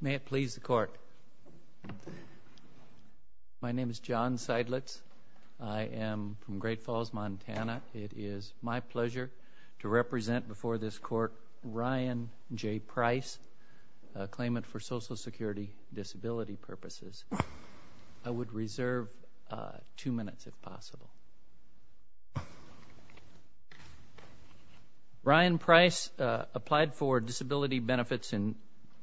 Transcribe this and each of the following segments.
May it please the Court. My name is John Seidlitz. I am from Great Falls, Montana. It is my pleasure to represent before this Court Ryan J. Price, a claimant for Social Security Disability Purposes. I would reserve two minutes if possible. Ryan Price applied for disability benefits in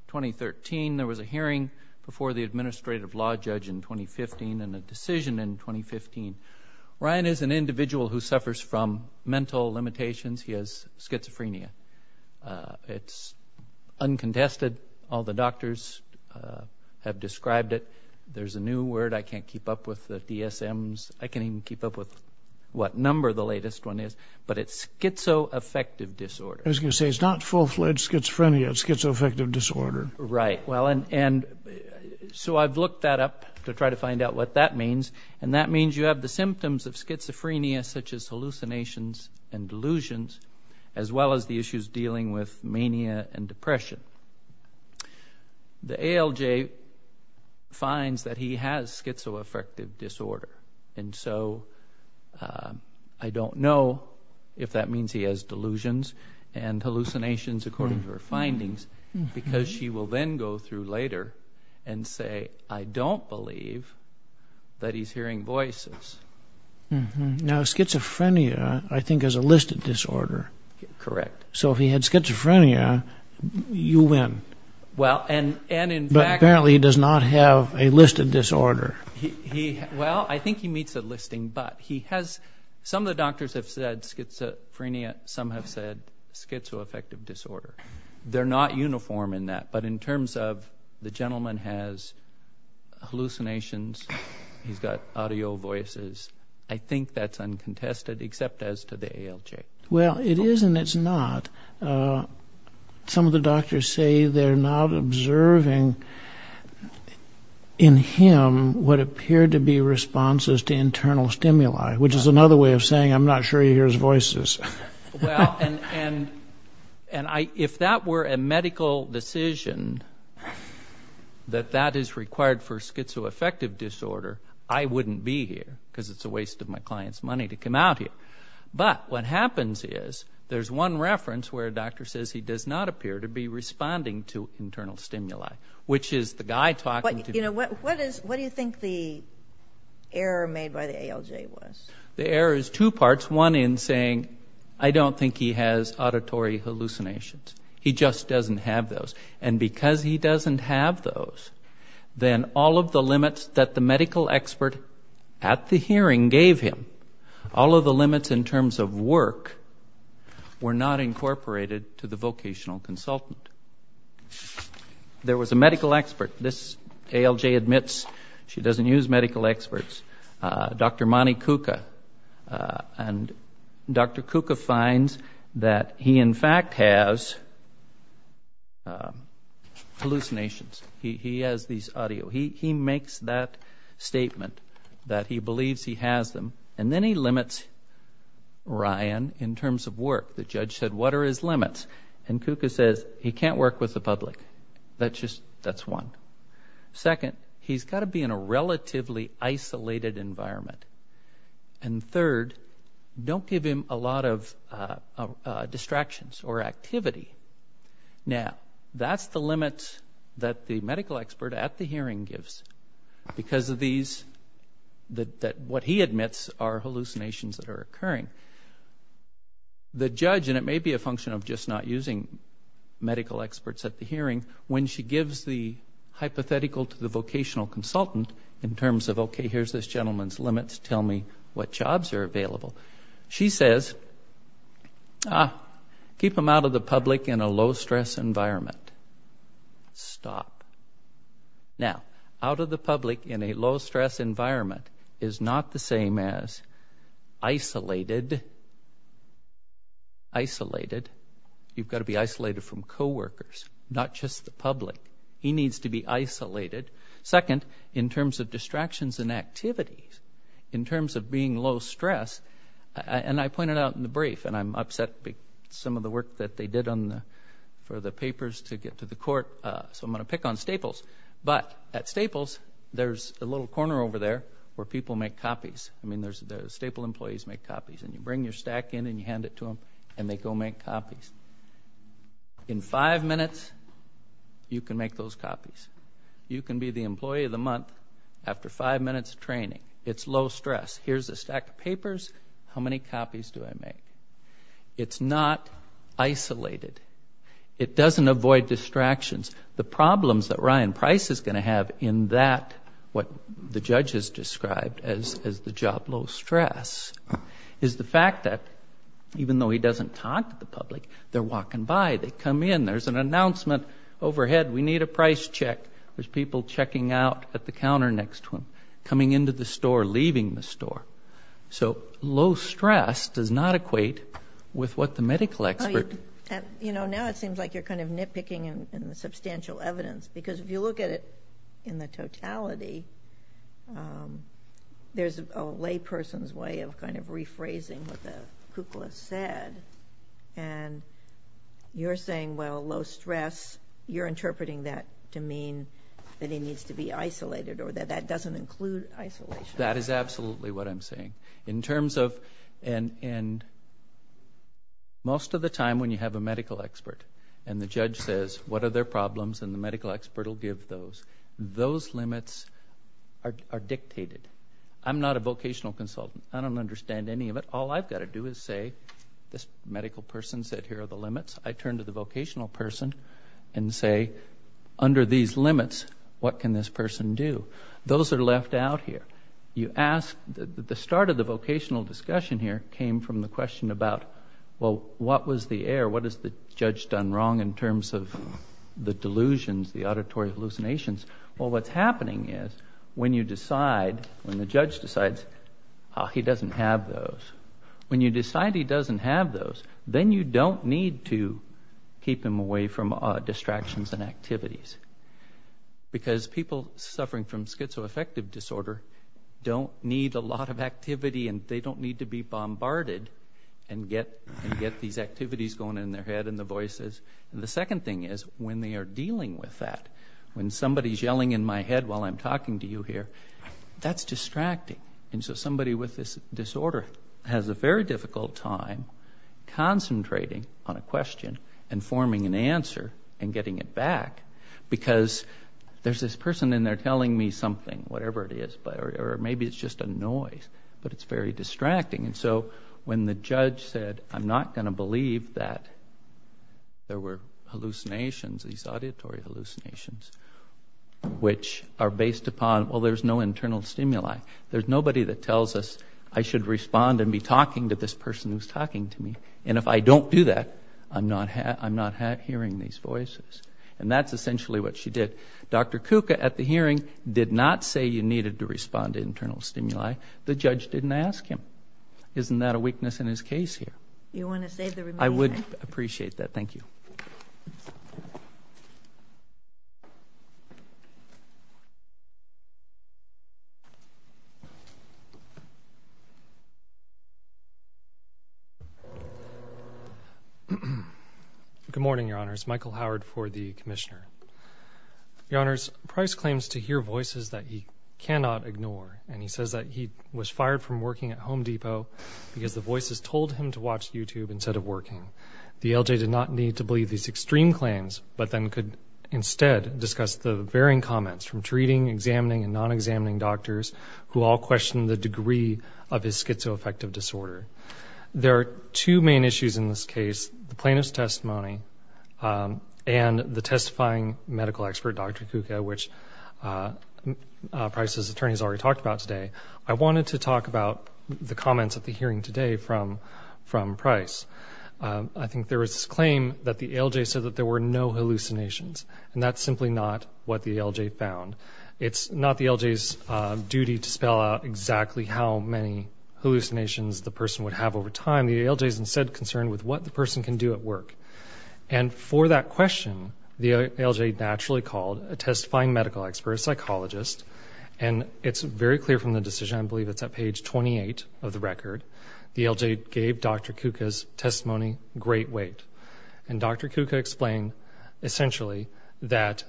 2013. There was a hearing before the Administrative Law Judge in 2015 and a decision in 2015. Ryan is an individual who suffers from mental limitations. He has schizophrenia. It is uncontested. All the doctors have described it. There is a new word. I can't keep up with the DSMs. I can't even keep up with what number the latest one is. But it is schizoaffective disorder. I was going to say it is not full-fledged schizophrenia. It is schizoaffective disorder. Right. So I have looked that up to try to find out what that means. That means you have the symptoms of schizophrenia such as hallucinations and delusions as well as the issues dealing with mania and depression. The ALJ finds that he has schizoaffective disorder. So I don't know if that means he has delusions and hallucinations according to her findings because she will then go through later and say I don't believe that he is hearing voices. Now schizophrenia I think is a listed disorder. Correct. So if he had schizophrenia you win. But apparently he does not have a listed disorder. Well I think he meets the listing. Some of the doctors have said schizophrenia. Some have said schizoaffective disorder. They are not uniform in that. But in terms of the gentleman has hallucinations. He has got audio voices. I think that is uncontested except as to the some of the doctors say they are not observing in him what appear to be responses to internal stimuli which is another way of saying I am not sure he hears voices. Well and if that were a medical decision that that is required for schizoaffective disorder I wouldn't be here because it is a waste of my client's money to come out here. But what happens is there is one reference where a doctor says he does not appear to be responding to internal stimuli which is the guy talking to you. What do you think the error made by the ALJ was? The error is two parts. One in saying I don't think he has auditory hallucinations. He just doesn't have those. And because he doesn't have those then all of the limits that the were not incorporated to the vocational consultant. There was a medical expert. This ALJ admits she doesn't use medical experts. Dr. Monty Kuka. And Dr. Kuka finds that he in fact has hallucinations. He has these audio. He makes that statement that he believes he has them. And then he limits Ryan in terms of work. The judge said what are his limits? And Kuka says he can't work with the public. That is one. Second, he has got to be in a relatively isolated environment. And third, don't give him a lot of distractions or activity. Now that is the limit that the medical expert at the hearing gives because of these that what he admits are hallucinations that are occurring. The judge, and it may be a function of just not using medical experts at the hearing, when she gives the hypothetical to the vocational consultant in terms of okay, here is this gentleman's limits. Tell me what jobs are available. She says keep him out of the public in a low stress environment. Stop. Now, out of the public in a low stress environment is not the same as isolated. You've got to be isolated from coworkers, not just the public. He needs to be isolated. Second, in terms of distractions and activities, in terms of being low stress, and I pointed out in the brief and I'm upset with some of the work that they did for the papers to get to the there is a little corner over there where people make copies. I mean, the staple employees make copies. And you bring your stack in and you hand it to them and they go make copies. In five minutes, you can make those copies. You can be the employee of the month after five minutes of training. It's low stress. Here is a stack of papers. How many copies do I make? It's not isolated. It doesn't avoid distractions. The problems that Ryan Price is going to have in that, what the judge has described as the job low stress, is the fact that even though he doesn't talk to the public, they're walking by. They come in. There's an announcement overhead. We need a price check. There's people checking out at the counter next to him, coming into the store, leaving the store. So low stress does not equate with what the medical expert. You know, now it seems like you're kind of nitpicking in the substantial evidence because if you look at it in the totality, there's a layperson's way of kind of rephrasing what the Kuklis said. And you're saying, well, low stress, you're interpreting that to mean that he needs to be isolated or that that doesn't include isolation. That is absolutely what I'm saying. In terms of, and most of the time when you have a medical expert and the judge says, what are their problems, and the medical expert will give those, those limits are dictated. I'm not a vocational consultant. I don't understand any of it. All I've got to do is say, this medical person said here are the limits. I turn to the vocational person and say, under these limits, what can this person do? Those are left out here. You ask, the start of the vocational discussion here came from the question about, well, what was the error? What has the judge done wrong in terms of the delusions, the auditory hallucinations? Well, what's happening is when you decide, when the judge decides he doesn't have those, when you decide he doesn't have those, then you don't need to keep him away from distractions and activities. Because people suffering from schizoaffective disorder don't need a lot of activity and they don't need to be bombarded and get these activities going in their head and the voices. And the second thing is, when they are dealing with that, when somebody's yelling in my head while I'm talking to you here, that's distracting. And so somebody with this disorder has a very difficult time concentrating on a question and forming an answer and getting it back. Because there's this person in there telling me something, whatever it is, or maybe it's just a noise, but it's very distracting. And so when the judge said, I'm not going to believe that there were hallucinations, these auditory hallucinations, which are based upon, well, there's no internal stimuli. There's nobody that tells us I should respond and be talking to this person who's talking to me. And if I don't do that, I'm not hearing these voices. And that's essentially what she did. Dr. Kuka at the hearing did not say you needed to respond to internal stimuli. The judge didn't ask him. Isn't that a weakness in his case here? You want to say the remaining thing? I would appreciate that. Thank you. Good morning, Your Honors. Michael Howard for the Commissioner. Your Honors, Price claims to hear voices that he cannot ignore. And he says that he was fired from working at Home Depot because the voices told him to watch YouTube instead of working. The LJ did not need to believe these extreme claims, but then could instead discuss the varying comments from treating, examining, and non-examining doctors who all questioned the degree of his schizoaffective disorder. There are two main issues in this case, the plaintiff's testimony and the testifying medical expert, Dr. Kuka, which Price's attorney has already talked about today. I wanted to talk about the comments at the hearing today from Price. I think there is this claim that the LJ said that there were no hallucinations, and that's simply not what the LJ found. It's not the LJ's duty to spell out exactly how many hallucinations the person would have over time. The LJ is instead concerned with what the person can do at work. And for that question, the LJ naturally called a testifying medical expert, a psychologist, and it's very clear from the decision, I believe it's at page 28 of the Dr. Kuka explained essentially that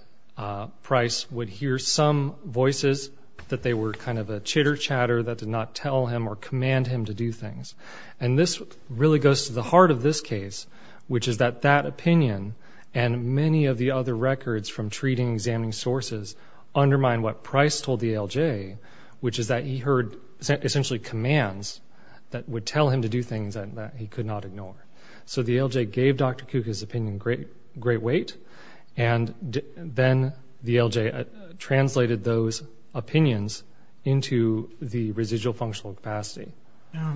Price would hear some voices, that they were kind of a chitter-chatter that did not tell him or command him to do things. And this really goes to the heart of this case, which is that that opinion and many of the other records from treating, examining sources undermine what Price told the LJ, which is that he heard essentially commands that would tell him to do things that he could not ignore. So the LJ gave Dr. Kuka's opinion great weight, and then the LJ translated those opinions into the residual functional capacity.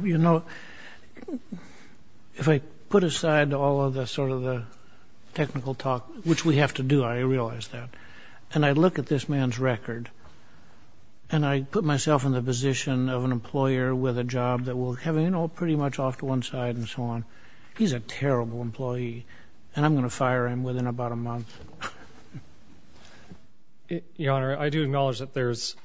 You know, if I put aside all of the sort of the technical talk, which we have to do, I realize that, and I look at this man's record, and I put myself in the position of an employer with a job that will have, you know, pretty much off to one side and so on. He's a terrible employee, and I'm going to fire him within about a month. Your Honor, I do acknowledge that there's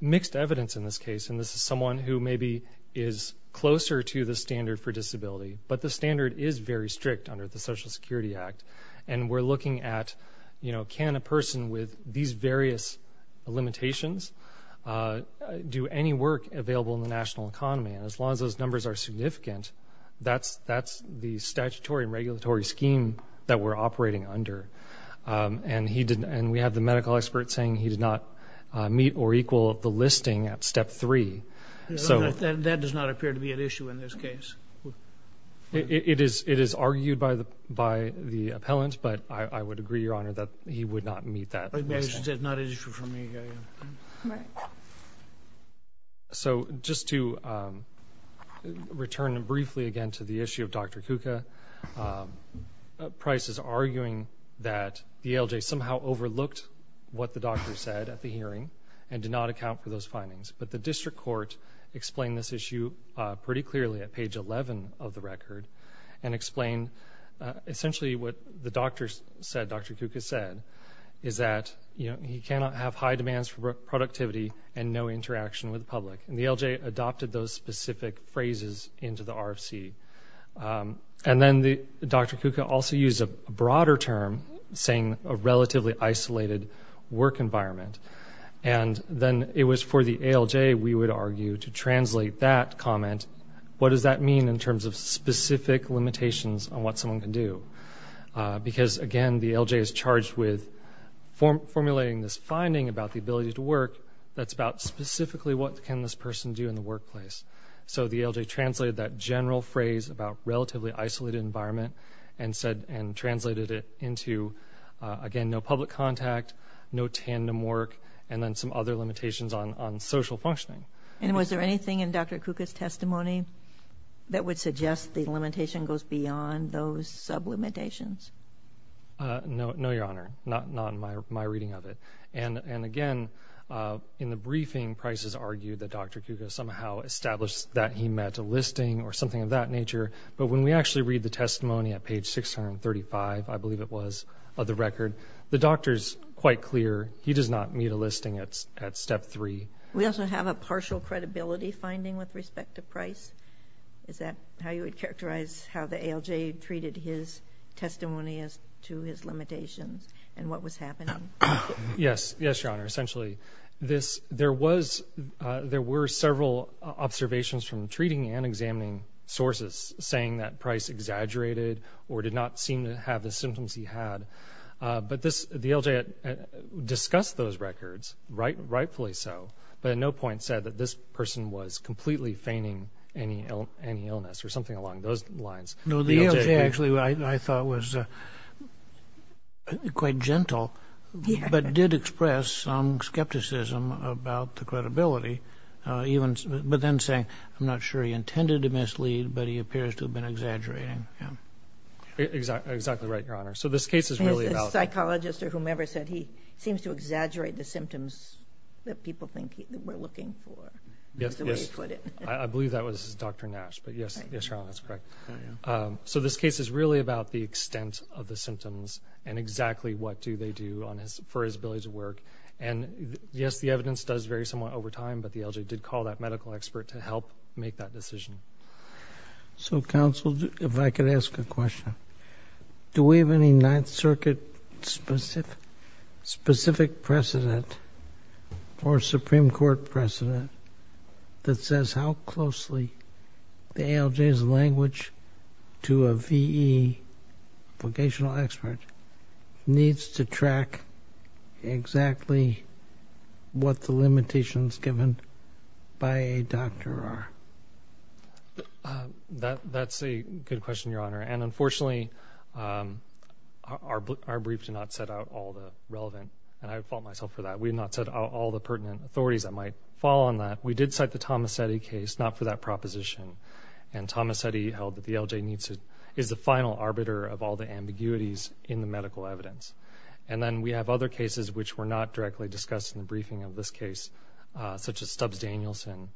mixed evidence in this case, and this is someone who maybe is closer to the standard for disability, but the standard is very strict under the Social Security Act. And we're looking at, you know, can a person with these various limitations do any work available in the national economy? And as long as those numbers are significant, that's the statutory and regulatory scheme that we're operating under. And he didn't — and we have the medical expert saying he did not meet or equal the listing at step three. So — Your Honor, that does not appear to be an issue in this case. It is argued by the appellant, but I would agree, Your Honor, that he would not meet that. I would imagine it's not an issue for me, Your Honor. So just to return briefly again to the issue of Dr. Kuka, Price is arguing that the ALJ somehow overlooked what the doctor said at the hearing and did not account for those findings. But the district court explained this issue pretty clearly at page 11 of the And the ALJ adopted those specific phrases into the RFC. And then the — Dr. Kuka also used a broader term, saying a relatively isolated work environment. And then it was for the ALJ, we would argue, to translate that comment. What does that mean in terms of specific limitations on what someone can do? Because, again, the ALJ is charged with formulating this finding about the ability to work that's about specifically what can this person do in the workplace. So the ALJ translated that general phrase about relatively isolated environment and said — and translated it into, again, no public contact, no tandem work, and then some other limitations on social functioning. And was there anything in Dr. Kuka's testimony that would suggest the limitation goes beyond those sublimitations? No, Your Honor. Not in my reading of it. And, again, in the briefing, Price has argued that Dr. Kuka somehow established that he met a listing or something of that nature. But when we actually read the testimony at page 635, I believe it was, of the record, the doctor is quite clear he does not meet a listing at step three. We also have a partial credibility finding with respect to Price. Is that how you would say treated his testimony as to his limitations and what was happening? Yes. Yes, Your Honor. Essentially, there were several observations from treating and examining sources saying that Price exaggerated or did not seem to have the symptoms he had. But the ALJ discussed those records, rightfully so, but at no point said that this person was completely feigning any illness or something along those lines. No, the ALJ actually, I thought, was quite gentle, but did express some skepticism about the credibility, but then saying, I'm not sure he intended to mislead, but he appears to have been exaggerating. Exactly. Exactly right, Your Honor. So this case is really about... The psychologist or whomever said he seems to exaggerate the symptoms that people think he were looking for. That's the way he put it. I believe that was Dr. Nash, but yes, Your Honor, that's correct. So this case is really about the extent of the symptoms and exactly what do they do for his ability to work. And yes, the evidence does vary somewhat over time, but the ALJ did call that medical expert to help make that decision. So counsel, if I could ask a question. Do we have any Ninth Circuit specific precedent or Supreme Court precedent that says how closely the ALJ's language to a V.E. vocational expert needs to track exactly what the limitations given by a doctor are? That's a good question, Your Honor, and unfortunately, our briefs do not set out all the relevant, and I fault myself for that, we have not set out all the pertinent authorities that might fall on that. We did cite the Tomasetti case, not for that proposition, and Tomasetti held that the ALJ is the final arbiter of all the ambiguities in the medical evidence. And then we have other cases which were not directly discussed in the briefing of this case, such as Stubbs Danielson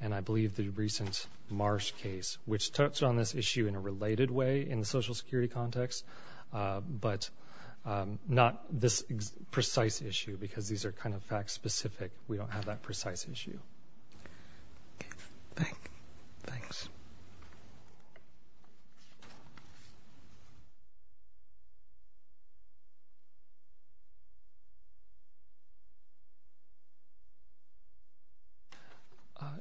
and I believe the recent Marsh case, which touched on this issue in a related way in the social security context, but not this precise issue, because these are kind of fact-specific. We don't have that precise issue. Okay. Thanks.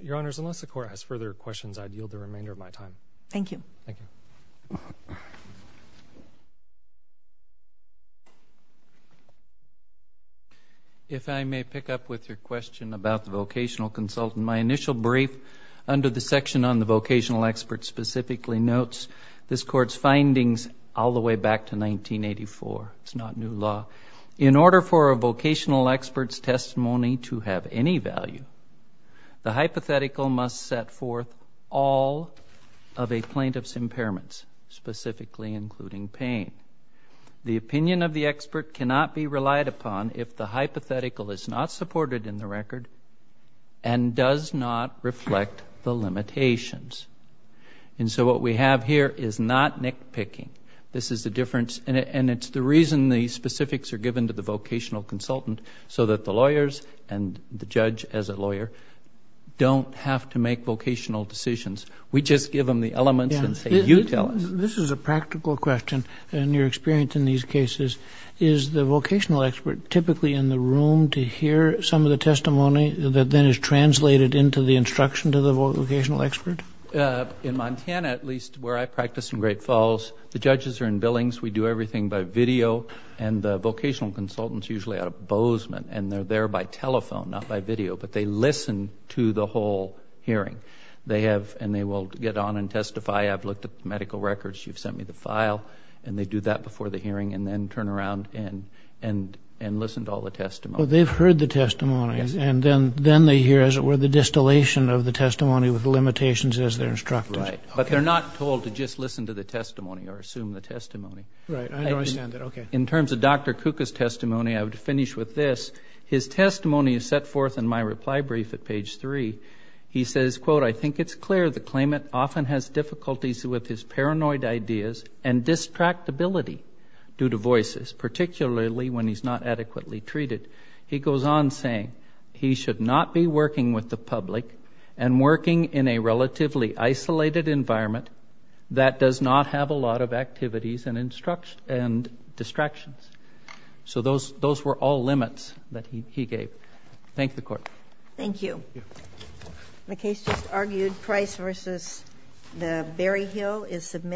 Your Honors, unless the Court has further questions, I'd yield the remainder of my time. Thank you. Thank you. If I may pick up with your question about the vocational consultant, my initial brief under the section on the vocational expert specifically notes this Court's findings all the way back to 1984. It's not new law. In order for a vocational expert's testimony to have any value, the hypothetical must set forth all of a plaintiff's impairments, specifically including pain. The opinion of the expert cannot be relied upon if the hypothetical is not supported in the record and does not reflect the limitations. And so what we have here is not nitpicking. This is the difference, and it's the reason the specifics are given to the vocational consultant so that the lawyers and the judge as a lawyer don't have to make vocational decisions. We just give them the elements and say, you tell us. This is a practical question in your experience in these cases. Is the vocational expert typically in the room to hear some of the testimony that then is translated into the instruction to the vocational expert? In Montana, at least, where I practice in Great Falls, the judges are in billings. We do everything by video. And the vocational consultant is usually at a bozeman, and they're there by telephone, not by video. But they listen to the whole hearing. They have, and they will get on and testify. I've looked at the medical records. You've sent me the file. And they do that before the hearing and then turn around and listen to all the testimony. Well, they've heard the testimonies, and then they hear, as it were, the distillation of the testimony with the limitations as their instructors. Right. But they're not told to just listen to the testimony or assume the testimony. Right. I understand that. Okay. In terms of Dr. Kuka's testimony, I would finish with this. His testimony is set forth in my reply brief at page three. He says, quote, I think it's clear the claimant often has difficulties with his paranoid ideas and distractibility due to voices, particularly when he's not adequately treated. He goes on saying, he should not be working with the environment that does not have a lot of activities and distractions. So those were all limits that he gave. Thank the Court. Thank you. Thank you. The case just argued, Price v. Berryhill is submitted.